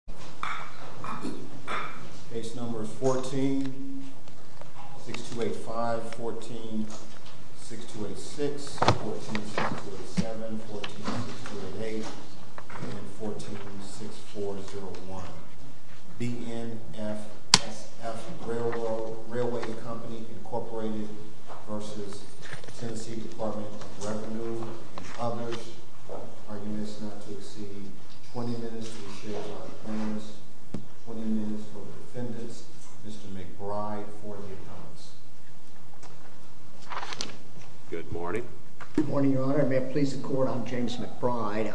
BNSF Railway v. TN Dept of Revenue and others, arguments not to exceed 20 minutes to be shared by the plaintiffs, 20 minutes for the defendants, Mr. McBride for the appellants. Good morning. Good morning, your honor. May it please the court, I'm James McBride.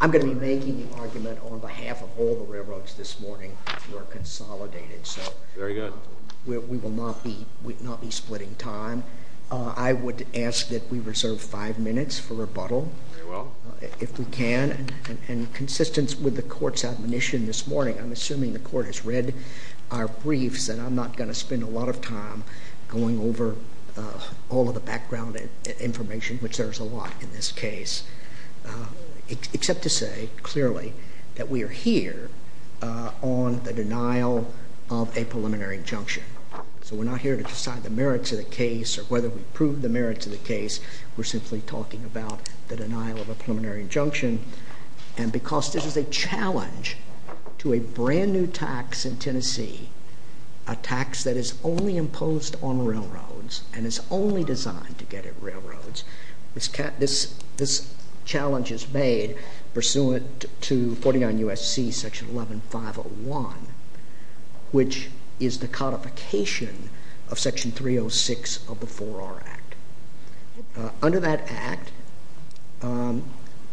I'm going to be making the argument on behalf of all the railroads this morning that we are consolidated. Very good. We will not be splitting time. I would ask that we reserve five minutes for rebuttal. Very well. If we can, in consistence with the court's admonition this morning, I'm assuming the court has read our briefs, and I'm not going to spend a lot of time going over all of the background information, which there is a lot in this case, except to say clearly that we are here on the denial of a preliminary injunction. So we're not here to decide the merits of the case or whether we prove the merits of the case. We're simply talking about the denial of a preliminary injunction. And because this is a challenge to a brand new tax in Tennessee, a tax that is only imposed on railroads and is only designed to get at railroads, this challenge is made pursuant to 49 U.S.C. section 11501, which is the codification of section 306 of the 4R Act. Under that Act,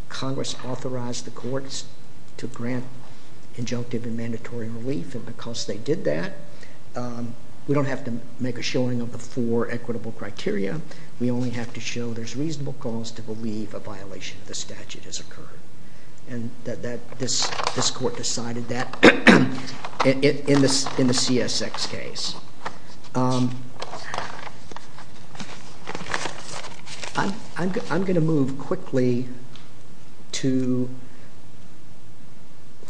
Congress authorized the courts to grant injunctive and mandatory relief, and because they did that, we don't have to make a showing of the four equitable criteria. We only have to show there's reasonable cause to believe a violation of the statute has occurred. And this court decided that in the CSX case. I'm going to move quickly to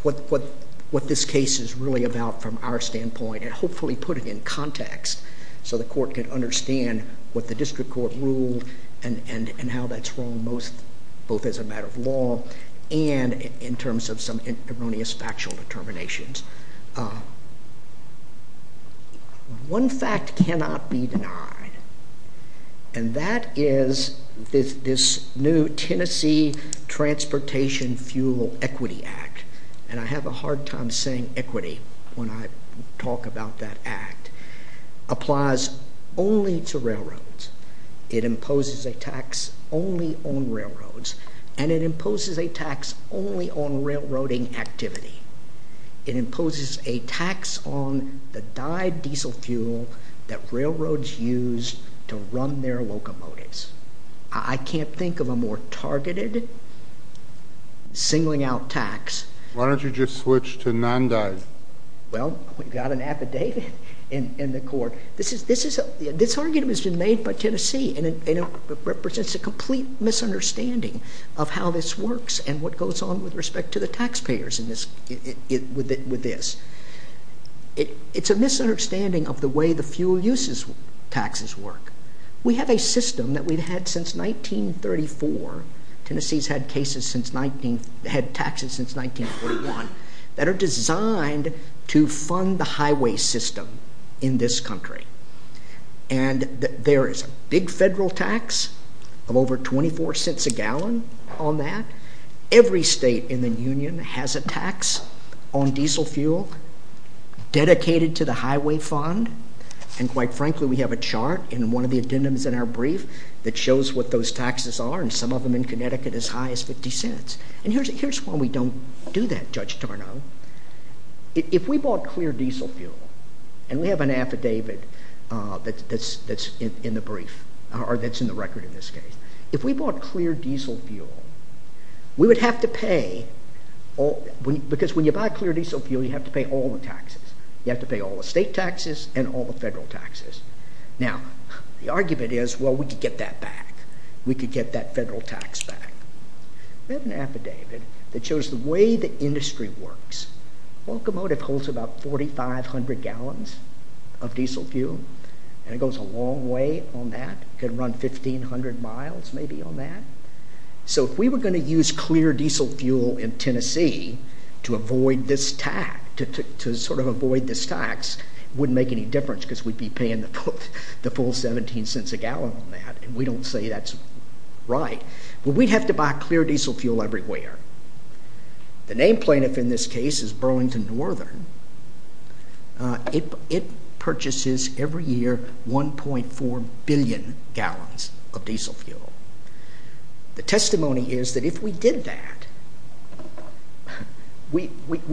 what this case is really about from our standpoint and hopefully put it in context so the court can understand what the district court ruled and how that's wrong both as a matter of law and in terms of some erroneous factual determinations. One fact cannot be denied, and that is this new Tennessee Transportation Fuel Equity Act. And I have a hard time saying equity when I talk about that act. It applies only to railroads. It imposes a tax only on railroads, and it imposes a tax only on railroading activity. It imposes a tax on the dyed diesel fuel that railroads use to run their locomotives. I can't think of a more targeted singling out tax. Why don't you just switch to non-dyed? Well, we've got an affidavit in the court. This argument has been made by Tennessee, and it represents a complete misunderstanding of how this works and what goes on with respect to the taxpayers with this. It's a misunderstanding of the way the fuel uses taxes work. We have a system that we've had since 1934. Tennessee's had taxes since 1941 that are designed to fund the highway system in this country. And there is a big federal tax of over 24 cents a gallon on that. Every state in the union has a tax on diesel fuel dedicated to the highway fund. And quite frankly, we have a chart in one of the addendums in our brief that shows what those taxes are, and some of them in Connecticut as high as 50 cents. And here's why we don't do that, Judge Tarnow. If we bought clear diesel fuel, and we have an affidavit that's in the brief, or that's in the record in this case, if we bought clear diesel fuel, we would have to pay, because when you buy clear diesel fuel, you have to pay all the taxes. You have to pay all the state taxes and all the federal taxes. Now, the argument is, well, we could get that back. We could get that federal tax back. We have an affidavit that shows the way the industry works. Locomotive holds about 4,500 gallons of diesel fuel, and it goes a long way on that. It can run 1,500 miles maybe on that. So if we were going to use clear diesel fuel in Tennessee to avoid this tax, it wouldn't make any difference because we'd be paying the full 17 cents a gallon on that. And we don't say that's right. But we'd have to buy clear diesel fuel everywhere. The name plaintiff in this case is Burlington Northern. It purchases every year 1.4 billion gallons of diesel fuel. The testimony is that if we did that, we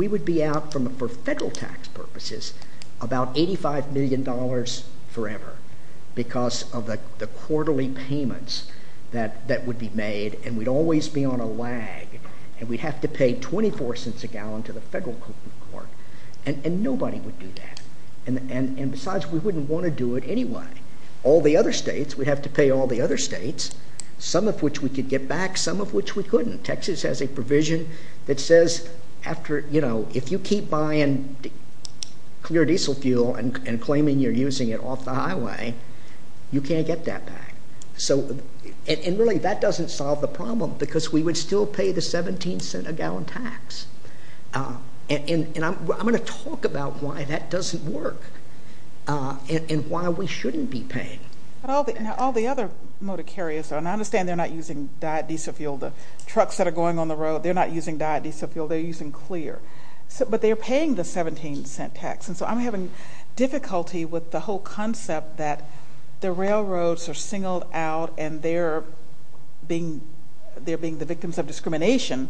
would be out for federal tax purposes about $85 million forever because of the quarterly payments that would be made, and we'd always be on a lag. And we'd have to pay 24 cents a gallon to the federal court, and nobody would do that. And besides, we wouldn't want to do it anyway. All the other states, we'd have to pay all the other states, some of which we could get back, some of which we couldn't. Texas has a provision that says after, you know, if you keep buying clear diesel fuel and claiming you're using it off the highway, you can't get that back. And really that doesn't solve the problem because we would still pay the 17 cent a gallon tax. And I'm going to talk about why that doesn't work and why we shouldn't be paying. All the other motor carriers, and I understand they're not using diesel fuel. The trucks that are going on the road, they're not using diesel fuel. They're using clear, but they're paying the 17 cent tax. And so I'm having difficulty with the whole concept that the railroads are singled out and they're being the victims of discrimination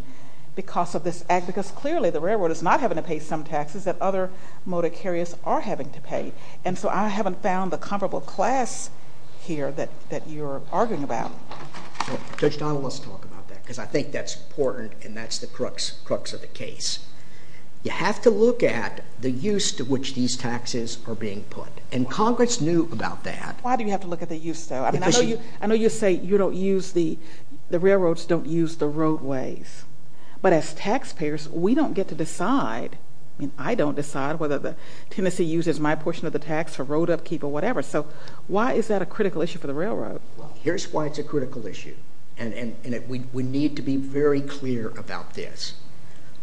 because of this act because clearly the railroad is not having to pay some taxes that other motor carriers are having to pay. And so I haven't found the comparable class here that you're arguing about. Judge Donald, let's talk about that because I think that's important and that's the crux of the case. You have to look at the use to which these taxes are being put. And Congress knew about that. Why do you have to look at the use though? I know you say you don't use the, the railroads don't use the roadways. But as taxpayers, we don't get to decide. I mean, I don't decide whether Tennessee uses my portion of the tax for road upkeep or whatever. So why is that a critical issue for the railroad? Well, here's why it's a critical issue, and we need to be very clear about this.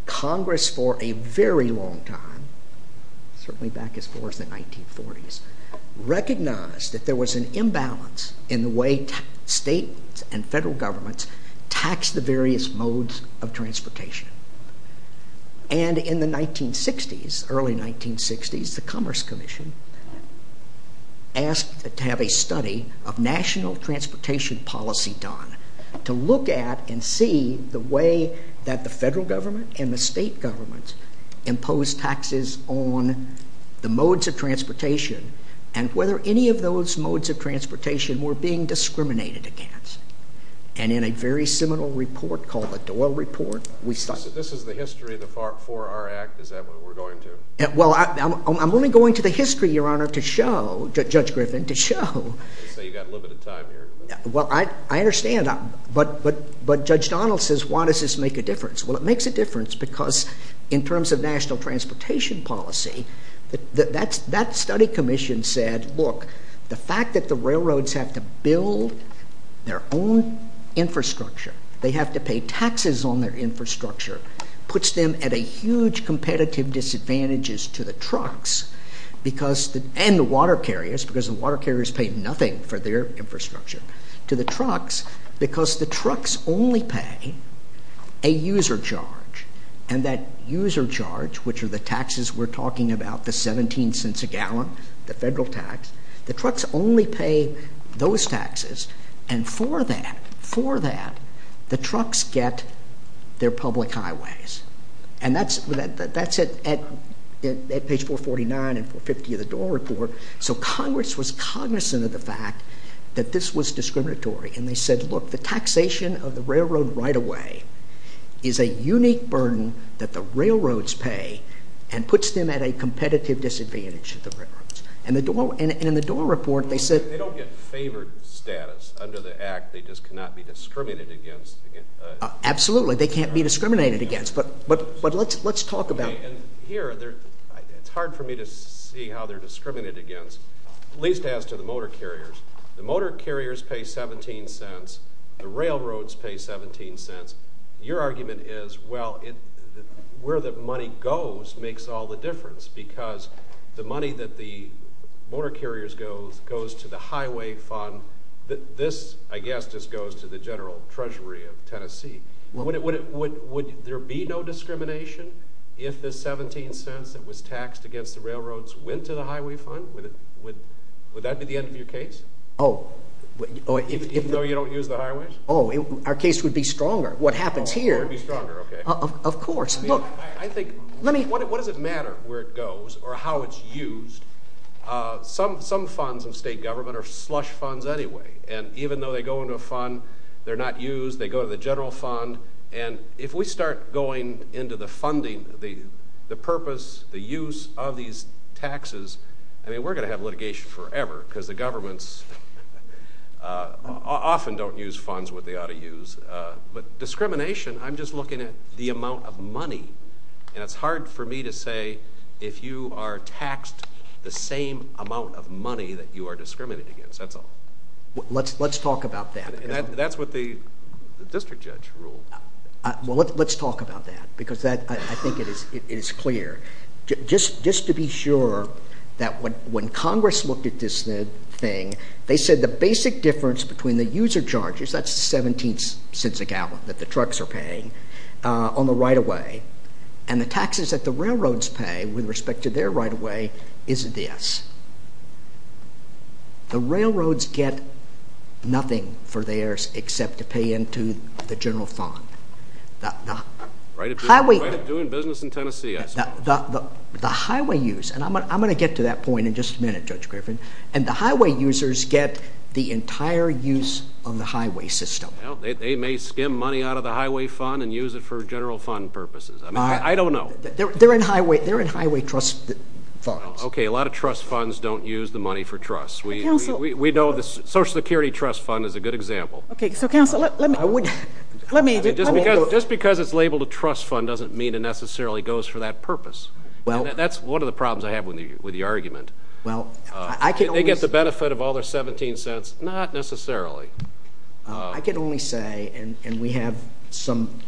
Congress for a very long time, certainly back as far as the 1940s, recognized that there was an imbalance in the way states and federal governments tax the various modes of transportation. And in the 1960s, early 1960s, the Commerce Commission asked to have a study of national transportation policy done to look at and see the way that the federal government and the state governments imposed taxes on the modes of transportation and whether any of those modes of transportation were being discriminated against. And in a very seminal report called the Doyle Report, we started... This is the history for our act, is that what we're going to? Well, I'm only going to the history, Your Honor, to show, Judge Griffin, to show... You say you've got limited time here. Well, I understand, but Judge Donald says, why does this make a difference? Well, it makes a difference because in terms of national transportation policy, that study commission said, look, the fact that the railroads have to build their own infrastructure, they have to pay taxes on their infrastructure, puts them at a huge competitive disadvantage to the trucks and the water carriers, because the water carriers pay nothing for their infrastructure, to the trucks because the trucks only pay a user charge. And that user charge, which are the taxes we're talking about, the 17 cents a gallon, the federal tax, the trucks only pay those taxes, and for that, for that, the trucks get their public highways. And that's at page 449 and 450 of the Doyle Report, so Congress was cognizant of the fact that this was discriminatory and they said, look, the taxation of the railroad right-of-way is a unique burden that the railroads pay and puts them at a competitive disadvantage to the railroads. And in the Doyle Report, they said... They don't get favored status under the act, they just cannot be discriminated against. Absolutely, they can't be discriminated against, but let's talk about... And here, it's hard for me to see how they're discriminated against, at least as to the motor carriers. The motor carriers pay 17 cents, the railroads pay 17 cents. Your argument is, well, where the money goes makes all the difference because the money that the motor carriers goes to the highway fund, this, I guess, just goes to the general treasury of Tennessee. Would there be no discrimination if the 17 cents that was taxed against the railroads went to the highway fund? Would that be the end of your case? Oh, if... Even though you don't use the highways? Oh, our case would be stronger. What happens here... Oh, it would be stronger, okay. Of course, look... I think... Let me... What does it matter where it goes or how it's used? Some funds of state government are slush funds anyway, and even though they go into a fund, they're not used, they go to the general fund, and if we start going into the funding, the purpose, the use of these taxes, I mean, we're going to have litigation forever because the governments often don't use funds what they ought to use. But discrimination, I'm just looking at the amount of money, and it's hard for me to say if you are taxed the same amount of money that you are discriminating against. That's all. Let's talk about that. That's what the district judge ruled. Well, let's talk about that because I think it is clear. Just to be sure that when Congress looked at this thing, they said the basic difference between the user charges, that's 17 cents a gallon that the trucks are paying, on the right-of-way, and the taxes that the railroads pay with respect to their right-of-way is this. The railroads get nothing for theirs except to pay into the general fund. Right of doing business in Tennessee, I suppose. The highway use, and I'm going to get to that point in just a minute, Judge Griffin, and the highway users get the entire use of the highway system. They may skim money out of the highway fund and use it for general fund purposes. I don't know. They're in highway trust funds. Okay. A lot of trust funds don't use the money for trust. We know the Social Security trust fund is a good example. Okay. So, counsel, let me… Just because it's labeled a trust fund doesn't mean it necessarily goes for that purpose. That's one of the problems I have with the argument. They get the benefit of all their 17 cents? Not necessarily. I can only say, and we have some,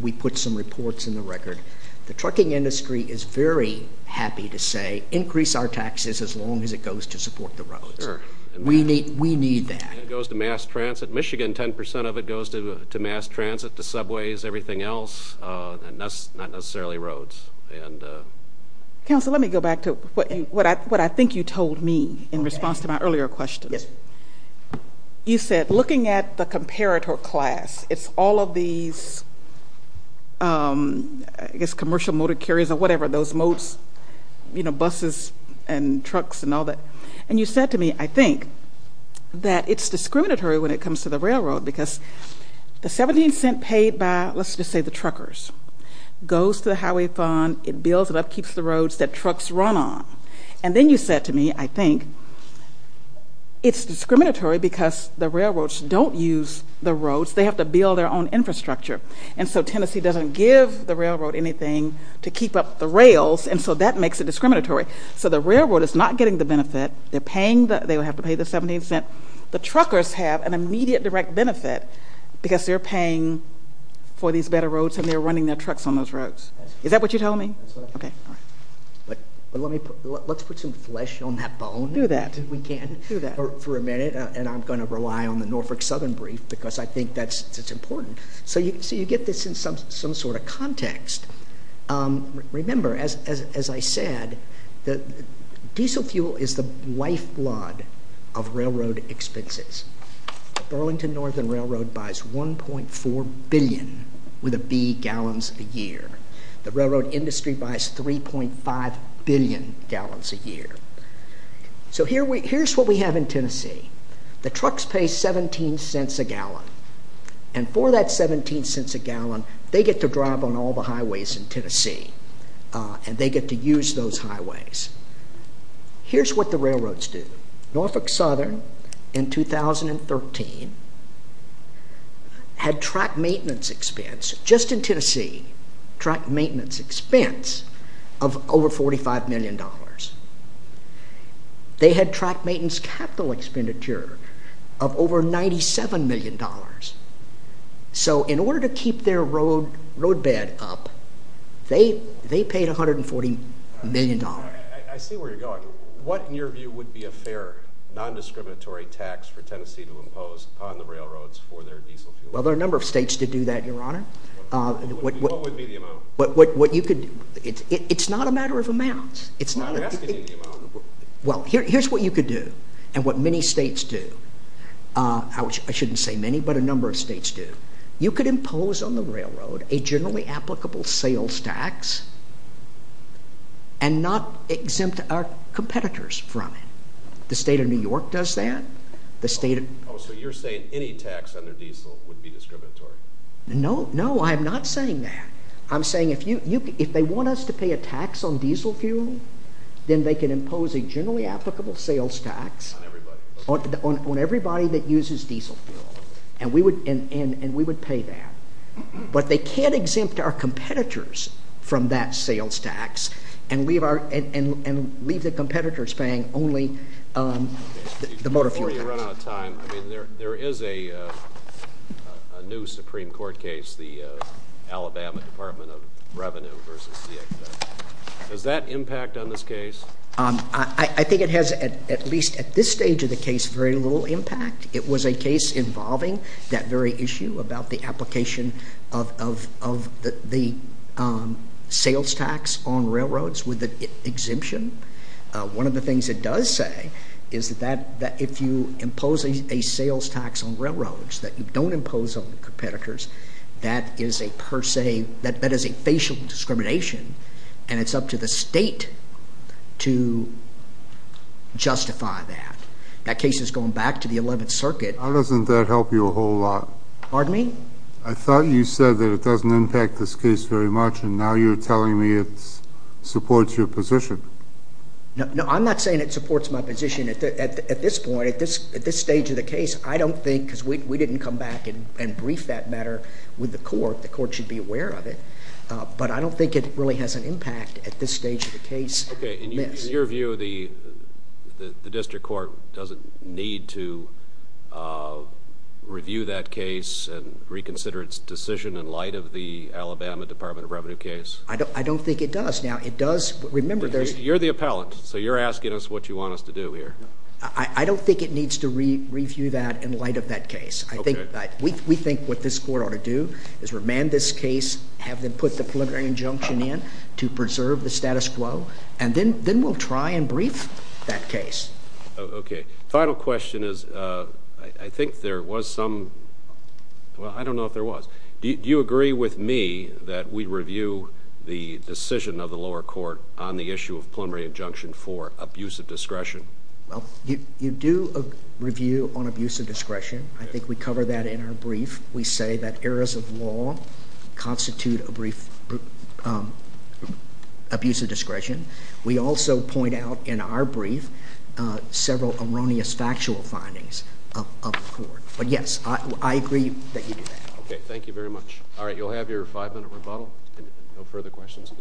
we put some reports in the record, the trucking industry is very happy to say increase our taxes as long as it goes to support the roads. Sure. We need that. It goes to mass transit. Michigan, 10 percent of it goes to mass transit, to subways, everything else, not necessarily roads. Counsel, let me go back to what I think you told me in response to my earlier questions. You said looking at the comparator class, it's all of these, I guess, commercial motor carriers or whatever, those moats, you know, buses and trucks and all that. And you said to me, I think, that it's discriminatory when it comes to the railroad because the 17 cents paid by, let's just say the truckers, goes to the highway fund, it builds it up, keeps the roads that trucks run on. And then you said to me, I think, it's discriminatory because the railroads don't use the roads. They have to build their own infrastructure. And so Tennessee doesn't give the railroad anything to keep up the rails, and so that makes it discriminatory. So the railroad is not getting the benefit. They're paying the 17 cents. The truckers have an immediate direct benefit because they're paying for these better roads and they're running their trucks on those roads. Is that what you told me? That's what I told you. Okay. But let's put some flesh on that bone. Do that. If we can. Do that. For a minute, and I'm going to rely on the Norfolk Southern brief because I think that's important. So you get this in some sort of context. Remember, as I said, diesel fuel is the lifeblood of railroad expenses. Burlington Northern Railroad buys 1.4 billion with a B gallons a year. The railroad industry buys 3.5 billion gallons a year. So here's what we have in Tennessee. The trucks pay 17 cents a gallon, and for that 17 cents a gallon, they get to drive on all the highways in Tennessee, and they get to use those highways. Here's what the railroads do. Norfolk Southern in 2013 had truck maintenance expense, just in Tennessee, truck maintenance expense of over $45 million. They had truck maintenance capital expenditure of over $97 million. So in order to keep their roadbed up, they paid $140 million. I see where you're going. What, in your view, would be a fair, non-discriminatory tax for Tennessee to impose on the railroads for their diesel fuel? Well, there are a number of states that do that, Your Honor. What would be the amount? It's not a matter of amounts. I'm asking you the amount. Well, here's what you could do and what many states do. I shouldn't say many, but a number of states do. You could impose on the railroad a generally applicable sales tax and not exempt our competitors from it. The state of New York does that. Oh, so you're saying any tax under diesel would be discriminatory. No, no, I'm not saying that. I'm saying if they want us to pay a tax on diesel fuel, then they can impose a generally applicable sales tax on everybody that uses diesel fuel, and we would pay that. But they can't exempt our competitors from that sales tax and leave the competitors paying only the motor fuel tax. At the same time, there is a new Supreme Court case, the Alabama Department of Revenue v. CXW. Does that impact on this case? I think it has, at least at this stage of the case, very little impact. It was a case involving that very issue about the application of the sales tax on railroads with the exemption. One of the things it does say is that if you impose a sales tax on railroads that you don't impose on the competitors, that is a facial discrimination, and it's up to the state to justify that. That case is going back to the 11th Circuit. How doesn't that help you a whole lot? Pardon me? I thought you said that it doesn't impact this case very much, and now you're telling me it supports your position. No, I'm not saying it supports my position. At this point, at this stage of the case, I don't think, because we didn't come back and brief that matter with the court. The court should be aware of it. But I don't think it really has an impact at this stage of the case. In your view, the district court doesn't need to review that case and reconsider its decision in light of the Alabama Department of Revenue case? I don't think it does. You're the appellant, so you're asking us what you want us to do here. I don't think it needs to review that in light of that case. We think what this court ought to do is remand this case, have them put the preliminary injunction in to preserve the status quo, and then we'll try and brief that case. Okay. Final question is, I think there was some—well, I don't know if there was. Do you agree with me that we review the decision of the lower court on the issue of preliminary injunction for abuse of discretion? Well, you do review on abuse of discretion. I think we cover that in our brief. We say that errors of law constitute abuse of discretion. We also point out in our brief several erroneous factual findings of the court. But, yes, I agree that you do that. Okay. Thank you very much. All right, you'll have your five-minute rebuttal, and no further questions.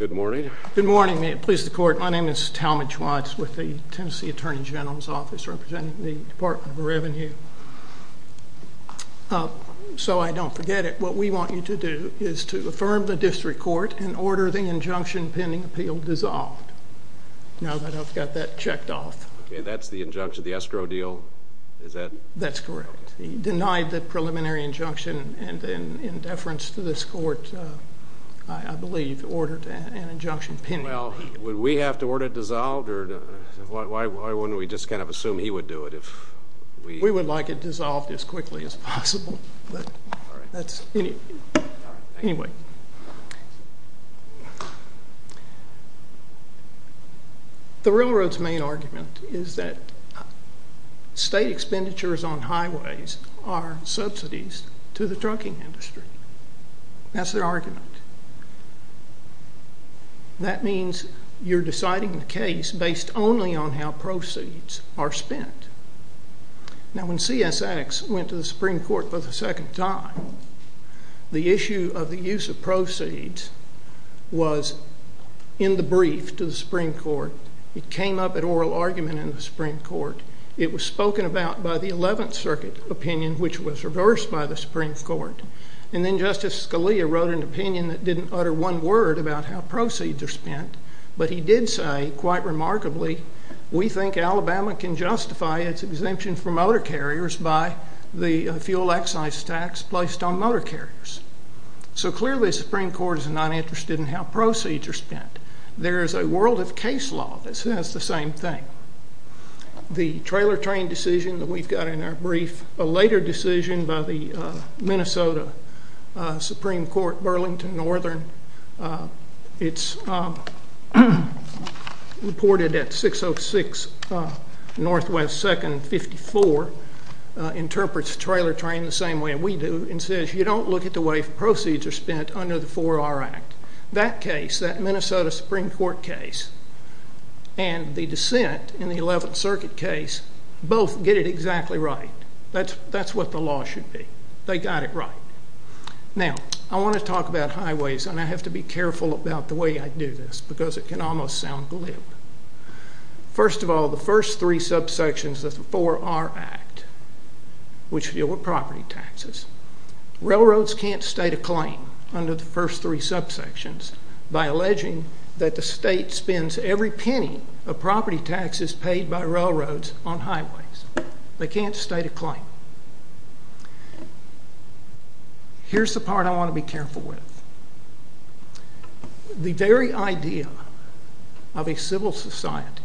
Good morning. Good morning. May it please the Court. My name is Talmadge Watts with the Tennessee Attorney General's Office representing the Department of Revenue. So I don't forget it. What we want you to do is to affirm the district court and order the injunction pending appeal dissolved. Now that I've got that checked off. That's the injunction. The escrow deal, is that correct? Yes. That's correct. He denied the preliminary injunction and in deference to this court, I believe, ordered an injunction pending. Well, would we have to order it dissolved? Why wouldn't we just kind of assume he would do it? We would like it dissolved as quickly as possible. All right. Anyway. Thank you. The railroad's main argument is that state expenditures on highways are subsidies to the trucking industry. That's their argument. That means you're deciding the case based only on how proceeds are spent. Now when CSX went to the Supreme Court for the second time, the issue of the use of proceeds was in the brief to the Supreme Court. It came up at oral argument in the Supreme Court. It was spoken about by the 11th Circuit opinion, which was reversed by the Supreme Court. And then Justice Scalia wrote an opinion that didn't utter one word about how proceeds are spent. But he did say, quite remarkably, we think Alabama can justify its exemption for motor carriers by the fuel excise tax placed on motor carriers. So clearly the Supreme Court is not interested in how proceeds are spent. There is a world of case law that says the same thing. The trailer train decision that we've got in our brief, a later decision by the Minnesota Supreme Court, Burlington Northern, it's reported at 606 NW 2nd 54, interprets trailer train the same way we do and says you don't look at the way proceeds are spent under the 4R Act. That case, that Minnesota Supreme Court case, and the dissent in the 11th Circuit case, both get it exactly right. That's what the law should be. They got it right. Now, I want to talk about highways, and I have to be careful about the way I do this because it can almost sound glib. First of all, the first three subsections of the 4R Act, which deal with property taxes. Railroads can't state a claim under the first three subsections by alleging that the state spends every penny of property taxes paid by railroads on highways. They can't state a claim. Here's the part I want to be careful with. The very idea of a civil society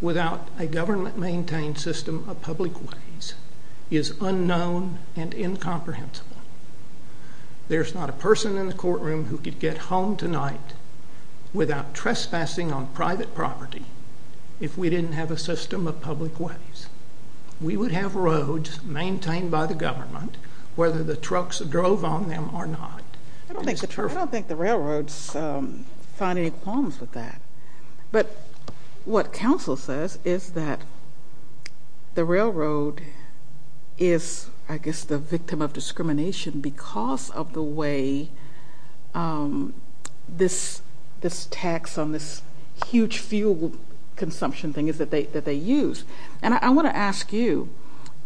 without a government-maintained system of public ways is unknown and incomprehensible. There's not a person in the courtroom who could get home tonight without trespassing on private property if we didn't have a system of public ways. We would have roads maintained by the government, whether the trucks drove on them or not. I don't think the railroads find any problems with that. But what counsel says is that the railroad is, I guess, the victim of discrimination because of the way this tax on this huge fuel consumption thing is that they use. And I want to ask you,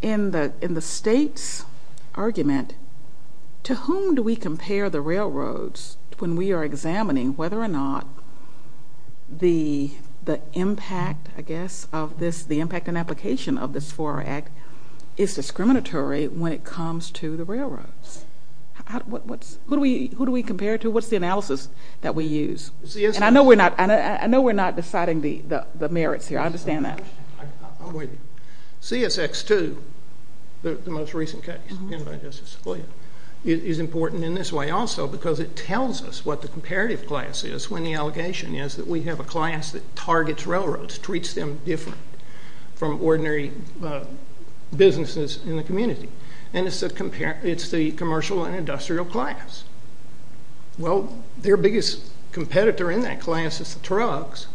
in the state's argument, to whom do we compare the railroads when we are examining whether or not the impact, I guess, of this, the impact and application of this 4R Act is discriminatory when it comes to the railroads? Who do we compare it to? What's the analysis that we use? And I know we're not deciding the merits here. I understand that. CSX2, the most recent case, is important in this way also because it tells us what the comparative class is when the allegation is that we have a class that targets railroads, treats them different from ordinary businesses in the community. And it's the commercial and industrial class. Well, their biggest competitor in that class is the trucks,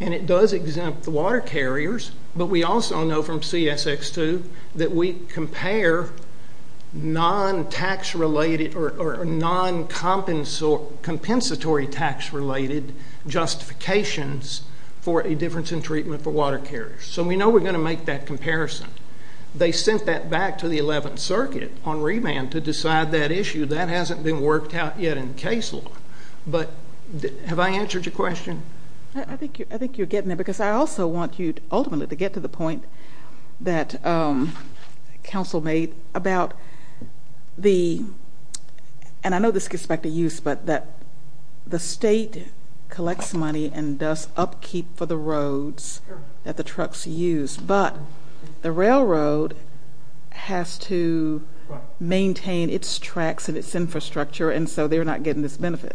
and it does exempt the water carriers. But we also know from CSX2 that we compare non-tax-related or non-compensatory tax-related justifications for a difference in treatment for water carriers. So we know we're going to make that comparison. They sent that back to the 11th Circuit on remand to decide that issue. That hasn't been worked out yet in case law. But have I answered your question? I think you're getting there because I also want you ultimately to get to the point that counsel made about the ‑‑ and I know this gets back to use, but that the state collects money and does upkeep for the roads that the trucks use, but the railroad has to maintain its tracks and its infrastructure, and so they're not getting this benefit.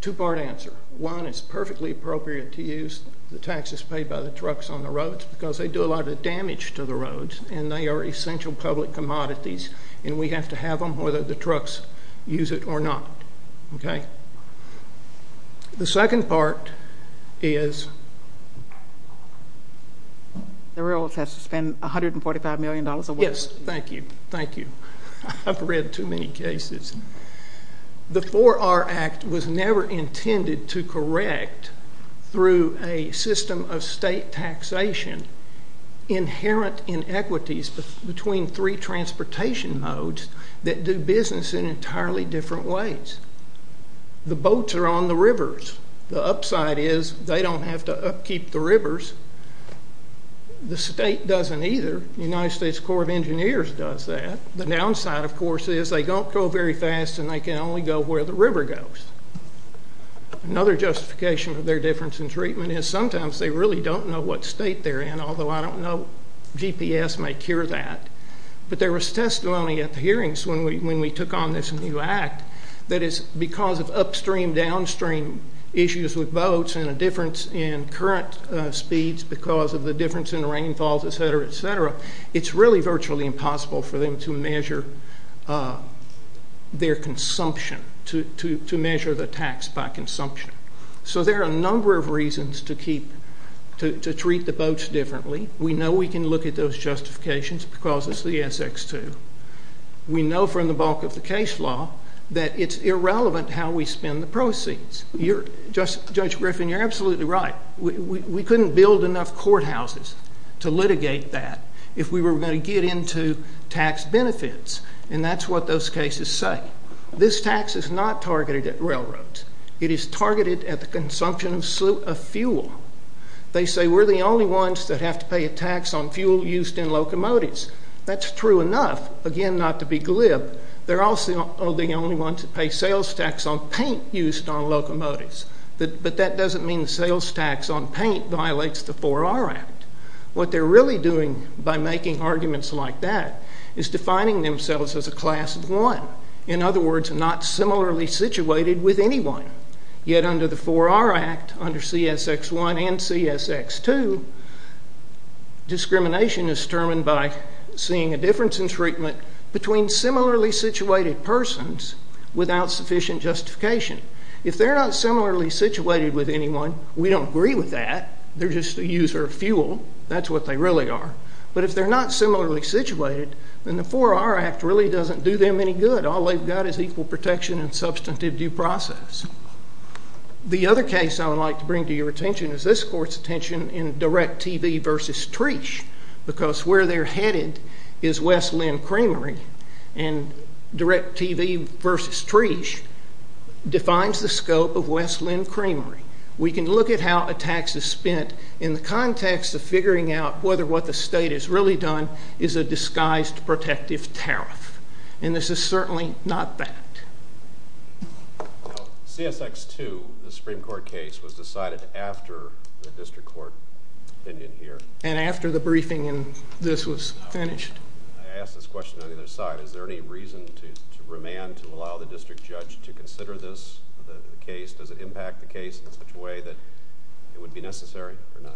Two‑part answer. One, it's perfectly appropriate to use the taxes paid by the trucks on the roads because they do a lot of damage to the roads, and they are essential public commodities, and we have to have them whether the trucks use it or not. Okay? The second part is ‑‑ The railroads have to spend $145 million a week. Yes. Thank you. Thank you. I've read too many cases. The 4R Act was never intended to correct through a system of state taxation inherent in equities between three transportation modes that do business in entirely different ways. The boats are on the rivers. The upside is they don't have to upkeep the rivers. The state doesn't either. The United States Corps of Engineers does that. The downside, of course, is they don't go very fast, and they can only go where the river goes. Another justification for their difference in treatment is sometimes they really don't know what state they're in, although I don't know. GPS may cure that. But there was testimony at the hearings when we took on this new act that it's because of upstream downstream issues with boats and a difference in current speeds because of the difference in rainfalls, et cetera, et cetera. It's really virtually impossible for them to measure their consumption, to measure the tax by consumption. So there are a number of reasons to treat the boats differently. We know we can look at those justifications because it's the SX2. We know from the bulk of the case law that it's irrelevant how we spend the proceeds. Judge Griffin, you're absolutely right. We couldn't build enough courthouses to litigate that if we were going to get into tax benefits, and that's what those cases say. This tax is not targeted at railroads. It is targeted at the consumption of fuel. They say we're the only ones that have to pay a tax on fuel used in locomotives. That's true enough, again, not to be glib. They're also the only ones that pay sales tax on paint used on locomotives. But that doesn't mean the sales tax on paint violates the 4R Act. What they're really doing by making arguments like that is defining themselves as a class of one, in other words, not similarly situated with anyone. Yet under the 4R Act, under CSX1 and CSX2, discrimination is determined by seeing a difference in treatment between similarly situated persons without sufficient justification. If they're not similarly situated with anyone, we don't agree with that. They're just a user of fuel. That's what they really are. But if they're not similarly situated, then the 4R Act really doesn't do them any good. All they've got is equal protection and substantive due process. The other case I would like to bring to your attention is this court's attention in DirecTV v. Treesh because where they're headed is West Linn Creamery, and DirecTV v. Treesh defines the scope of West Linn Creamery. We can look at how a tax is spent in the context of figuring out whether what the state has really done is a disguised protective tariff, and this is certainly not that. CSX2, the Supreme Court case, was decided after the district court opinion here. And after the briefing and this was finished. I ask this question on either side. Is there any reason to remand, to allow the district judge to consider this case? Does it impact the case in such a way that it would be necessary or not?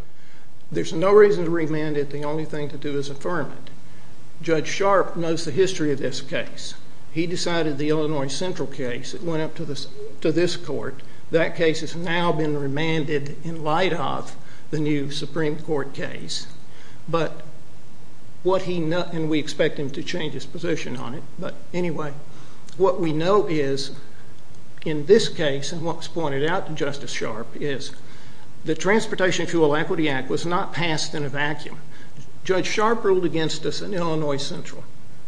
There's no reason to remand it. The only thing to do is affirm it. Judge Sharp knows the history of this case. He decided the Illinois Central case. It went up to this court. That case has now been remanded in light of the new Supreme Court case. But what he knows, and we expect him to change his position on it, but anyway, what we know is in this case, and what was pointed out to Justice Sharp, is the Transportation Fuel Equity Act was not passed in a vacuum. Judge Sharp ruled against us in Illinois Central.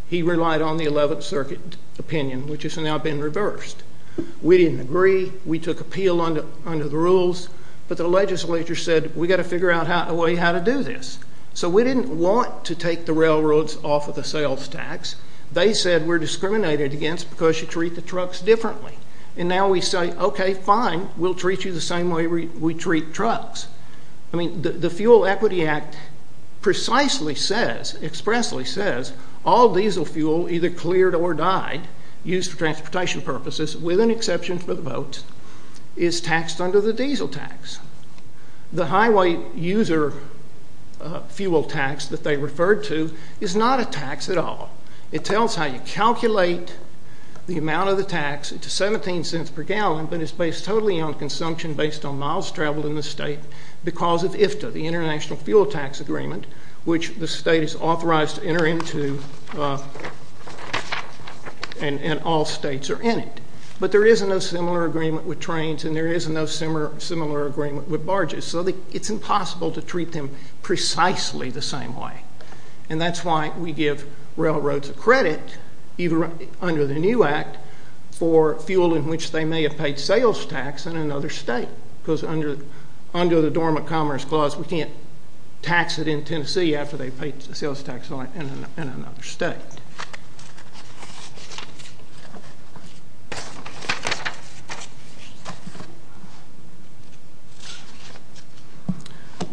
He relied on the 11th Circuit opinion, which has now been reversed. We didn't agree. We took appeal under the rules. But the legislature said, we've got to figure out a way how to do this. So we didn't want to take the railroads off of the sales tax. They said we're discriminated against because you treat the trucks differently. And now we say, okay, fine, we'll treat you the same way we treat trucks. I mean, the Fuel Equity Act precisely says, expressly says, all diesel fuel, either cleared or died, used for transportation purposes, with an exception for the boat, is taxed under the diesel tax. The highway user fuel tax that they referred to is not a tax at all. It tells how you calculate the amount of the tax. It's $0.17 per gallon, but it's based totally on consumption, based on miles traveled in the state because of IFTA, the International Fuel Tax Agreement, which the state is authorized to enter into and all states are in it. But there is no similar agreement with trains, and there is no similar agreement with barges. So it's impossible to treat them precisely the same way. And that's why we give railroads a credit, even under the new act, for fuel in which they may have paid sales tax in another state because under the Dormant Commerce Clause, we can't tax it in Tennessee after they've paid sales tax in another state.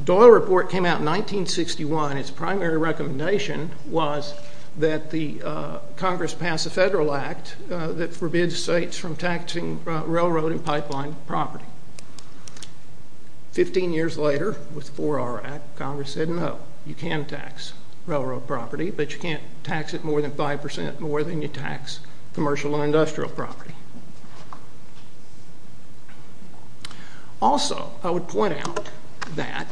The Doyle Report came out in 1961. Its primary recommendation was that the Congress pass a federal act that forbids states from taxing railroad and pipeline property. Fifteen years later, with the 4R Act, Congress said, no, you can tax railroad property, but you can't tax it more than 5% more than you tax commercial and industrial property. Also, I would point out that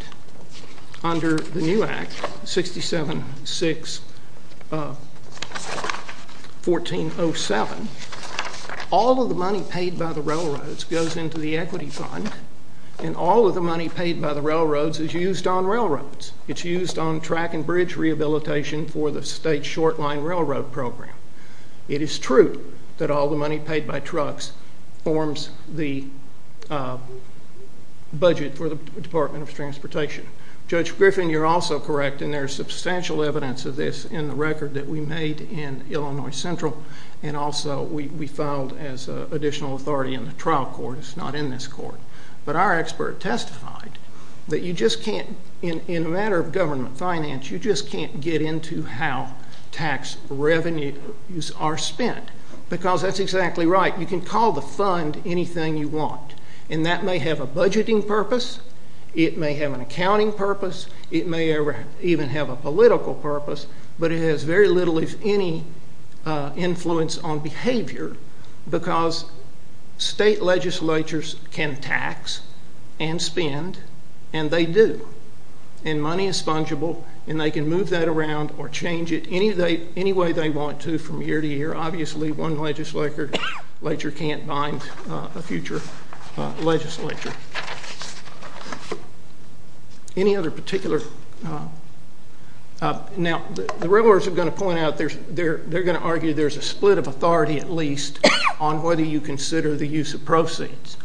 under the new act, 67-6-1407, all of the money paid by the railroads goes into the equity fund, and all of the money paid by the railroads is used on railroads. It's used on track and bridge rehabilitation for the state short-line railroad program. It is true that all the money paid by trucks forms the budget for the Department of Transportation. Judge Griffin, you're also correct, and there's substantial evidence of this in the record that we made in Illinois Central, and also we filed as additional authority in the trial court. It's not in this court. But our expert testified that you just can't, in a matter of government finance, you just can't get into how tax revenues are spent, because that's exactly right. You can call the fund anything you want, and that may have a budgeting purpose, it may have an accounting purpose, it may even have a political purpose, but it has very little, if any, influence on behavior because state legislatures can tax and spend, and they do, and money is fungible, and they can move that around or change it any way they want to from year to year. Obviously, one legislature can't bind a future legislature. Any other particular... Now, the railroads are going to point out, they're going to argue there's a split of authority at least on whether you consider the use of proceeds.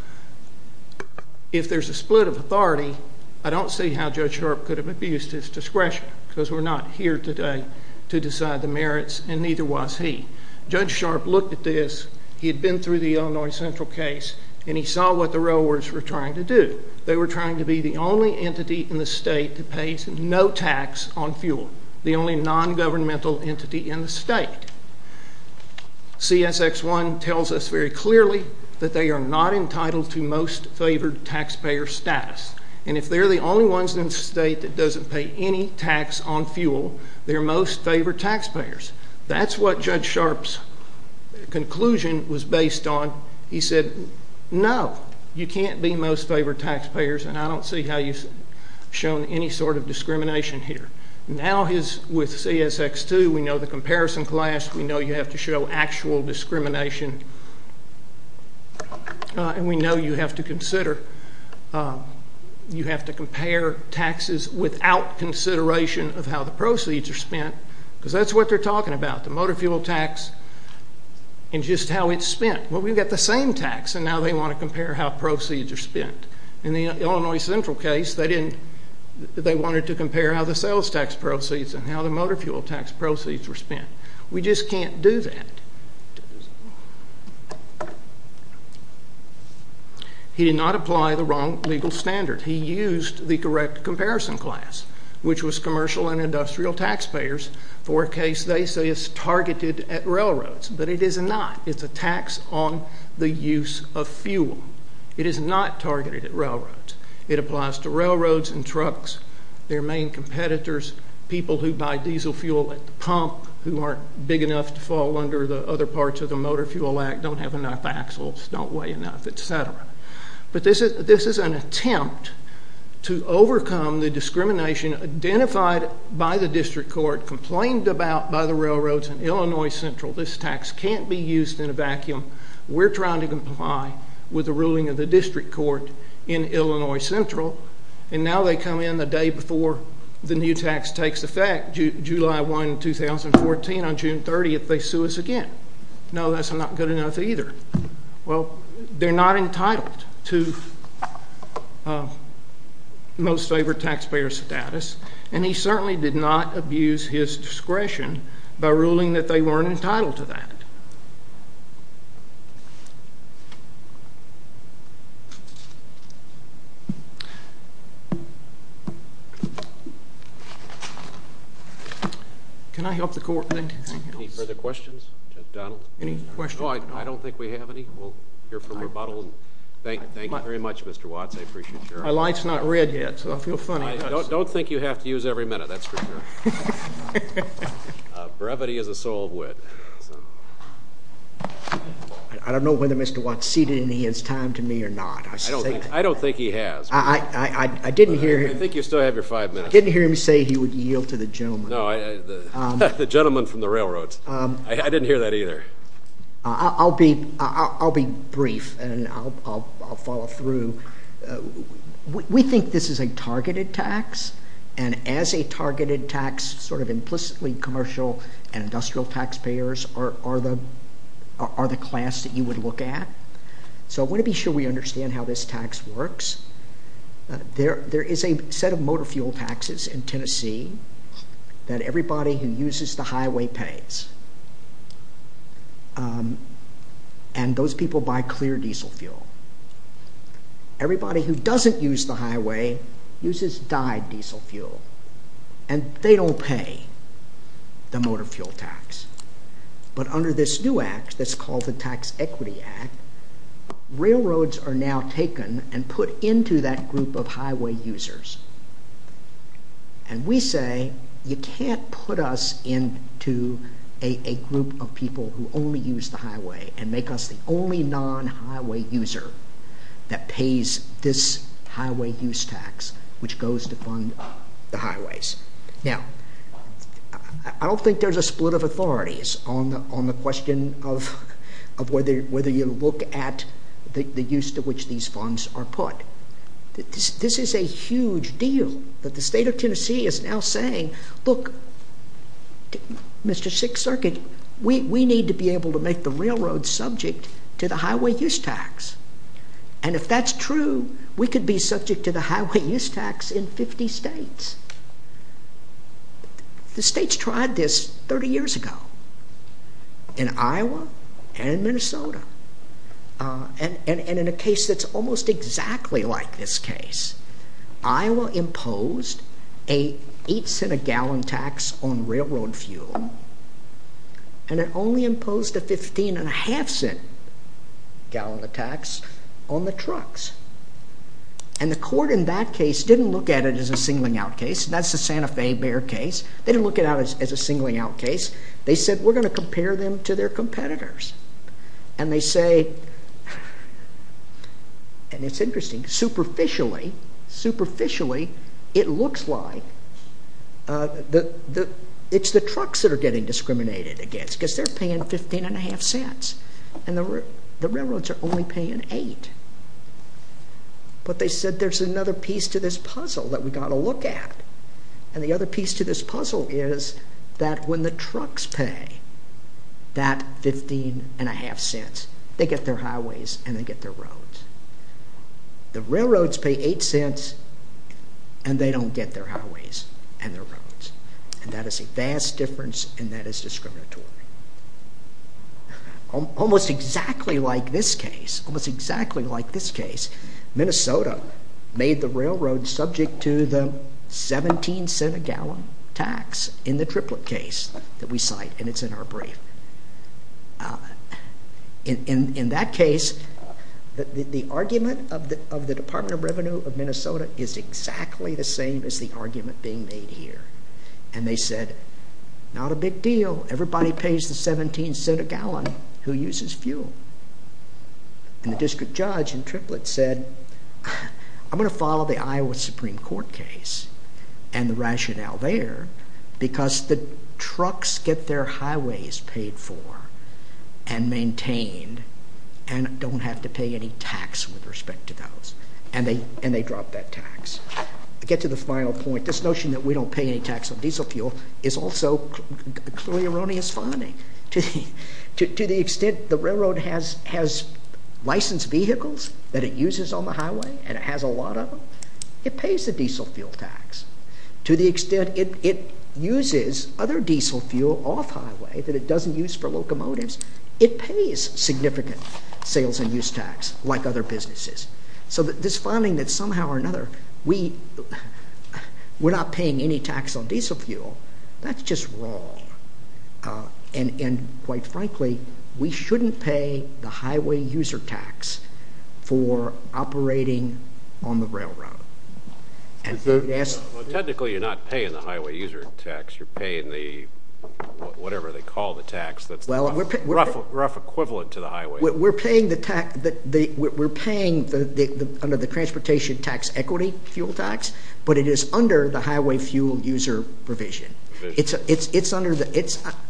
If there's a split of authority, I don't see how Judge Sharpe could have abused his discretion because we're not here today to decide the merits, and neither was he. Judge Sharpe looked at this, he had been through the Illinois Central case, and he saw what the railroads were trying to do. They were trying to be the only entity in the state that pays no tax on fuel, the only nongovernmental entity in the state. CSX-1 tells us very clearly that they are not entitled to most favored taxpayer status, and if they're the only ones in the state that doesn't pay any tax on fuel, they're most favored taxpayers. That's what Judge Sharpe's conclusion was based on. He said, no, you can't be most favored taxpayers, and I don't see how you've shown any sort of discrimination here. Now, with CSX-2, we know the comparison class, we know you have to show actual discrimination, and we know you have to compare taxes without consideration of how the proceeds are spent, because that's what they're talking about, the motor fuel tax and just how it's spent. Well, we've got the same tax, and now they want to compare how proceeds are spent. In the Illinois Central case, they wanted to compare how the sales tax proceeds and how the motor fuel tax proceeds were spent. We just can't do that. He did not apply the wrong legal standard. He used the correct comparison class, which was commercial and industrial taxpayers, for a case they say is targeted at railroads, but it is not. It's a tax on the use of fuel. It is not targeted at railroads. It applies to railroads and trucks, their main competitors, people who buy diesel fuel at the pump who aren't big enough to fall under the other parts of the Motor Fuel Act, don't have enough axles, don't weigh enough, etc. But this is an attempt to overcome the discrimination identified by the district court, complained about by the railroads in Illinois Central. This tax can't be used in a vacuum. We're trying to comply with the ruling of the district court in Illinois Central, and now they come in the day before the new tax takes effect, July 1, 2014, on June 30th, they sue us again. No, that's not good enough either. Well, they're not entitled to most favored taxpayer status, and he certainly did not abuse his discretion by ruling that they weren't entitled to that. Can I help the court in anything else? Any further questions? Any questions? I don't think we have any. We'll hear from rebuttal. Thank you very much, Mr. Watts. My light's not red yet, so I feel funny. Don't think you have to use every minute, that's for sure. Brevity is a soul of wit. I don't know whether Mr. Watts ceded any of his time to me or not. I don't think he has. I didn't hear him say he would yield to the gentleman. The gentleman from the railroads. I didn't hear that either. I'll be brief, and I'll follow through. We think this is a targeted tax, and as a targeted tax, sort of implicitly commercial and industrial taxpayers are the class that you would look at. So I want to be sure we understand how this tax works. There is a set of motor fuel taxes in Tennessee that everybody who uses the highway pays, and those people buy clear diesel fuel. Everybody who doesn't use the highway uses dyed diesel fuel, and they don't pay the motor fuel tax. But under this new act that's called the Tax Equity Act, railroads are now taken and put into that group of highway users, and we say you can't put us into a group of people who only use the highway and make us the only non-highway user that pays this highway use tax, which goes to fund the highways. Now, I don't think there's a split of authorities on the question of whether you look at the use to which these funds are put. This is a huge deal, but the state of Tennessee is now saying, look, Mr. Sixth Circuit, we need to be able to make the railroad subject to the highway use tax, and if that's true, we could be subject to the highway use tax in 50 states. The states tried this 30 years ago in Iowa and Minnesota, and in a case that's almost exactly like this case, Iowa imposed an 8 cent a gallon tax on railroad fuel, and it only imposed a 15 and a half cent gallon of tax on the trucks, and the court in that case didn't look at it as a singling out case, that's the Santa Fe Bear case, they didn't look at it as a singling out case, they said we're going to compare them to their competitors, and they say, and it's interesting, superficially, superficially it looks like it's the trucks that are getting discriminated against, because they're paying 15 and a half cents, and the railroads are only paying 8. But they said there's another piece to this puzzle that we've got to look at, and the other piece to this puzzle is that when the trucks pay that 15 and a half cents, they get their highways and they get their roads. The railroads pay 8 cents and they don't get their highways and their roads, and that is a vast difference and that is discriminatory. Almost exactly like this case, almost exactly like this case, Minnesota made the railroad subject to the 17 cent a gallon tax in the triplet case that we cite, and it's in our brief. In that case, the argument of the Department of Revenue of Minnesota is exactly the same as the argument being made here. And they said, not a big deal, everybody pays the 17 cent a gallon who uses fuel. And the district judge in triplet said, I'm going to follow the Iowa Supreme Court case and the rationale there, because the trucks get their highways paid for and maintained and don't have to pay any tax with respect to those, and they drop that tax. To get to the final point, this notion that we don't pay any tax on diesel fuel is also clearly erroneous finding. To the extent the railroad has licensed vehicles that it uses on the highway and it has a lot of them, it pays the diesel fuel tax. To the extent it uses other diesel fuel off highway that it doesn't use for locomotives, it pays significant sales and use tax like other businesses. So this finding that somehow or another we're not paying any tax on diesel fuel, that's just wrong. And quite frankly, we shouldn't pay the highway user tax for operating on the railroad. Technically you're not paying the highway user tax, you're paying the whatever they call the tax that's the rough equivalent to the highway. We're paying under the transportation tax equity fuel tax, but it is under the highway fuel user provision.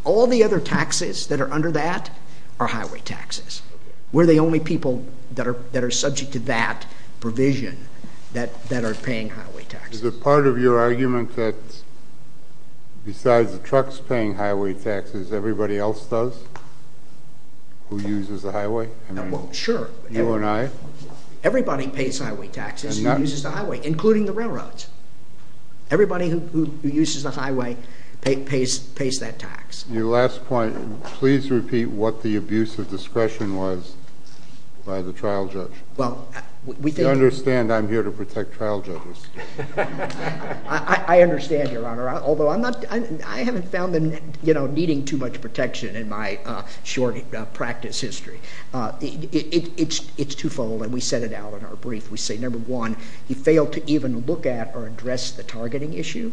All the other taxes that are under that are highway taxes. We're the only people that are subject to that provision that are paying highway taxes. Is it part of your argument that besides the trucks paying highway taxes, everybody else does? Who uses the highway? Sure. You and I? Everybody pays highway taxes, who uses the highway, including the railroads. Everybody who uses the highway pays that tax. Your last point, please repeat what the abuse of discretion was by the trial judge. You understand I'm here to protect trial judges. I understand, Your Honor, although I haven't found them needing too much protection in my short practice history. It's twofold and we set it out in our brief. We say number one, he failed to even look at or address the targeting issue,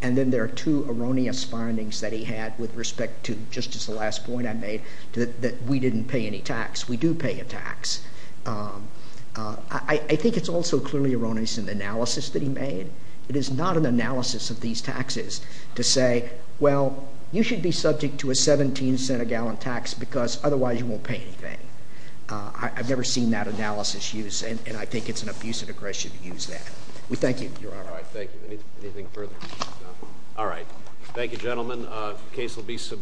and then there are two erroneous findings that he had with respect to just the last point I made that we didn't pay any tax. We do pay a tax. I think it's also clearly erroneous in the analysis that he made. It is not an analysis of these taxes to say, well, you should be subject to a 17-cent-a-gallon tax because otherwise you won't pay anything. I've never seen that analysis used, and I think it's an abuse of discretion to use that. We thank you, Your Honor. All right, thank you. Anything further? No? All right. Thank you, gentlemen. The case will be submitted.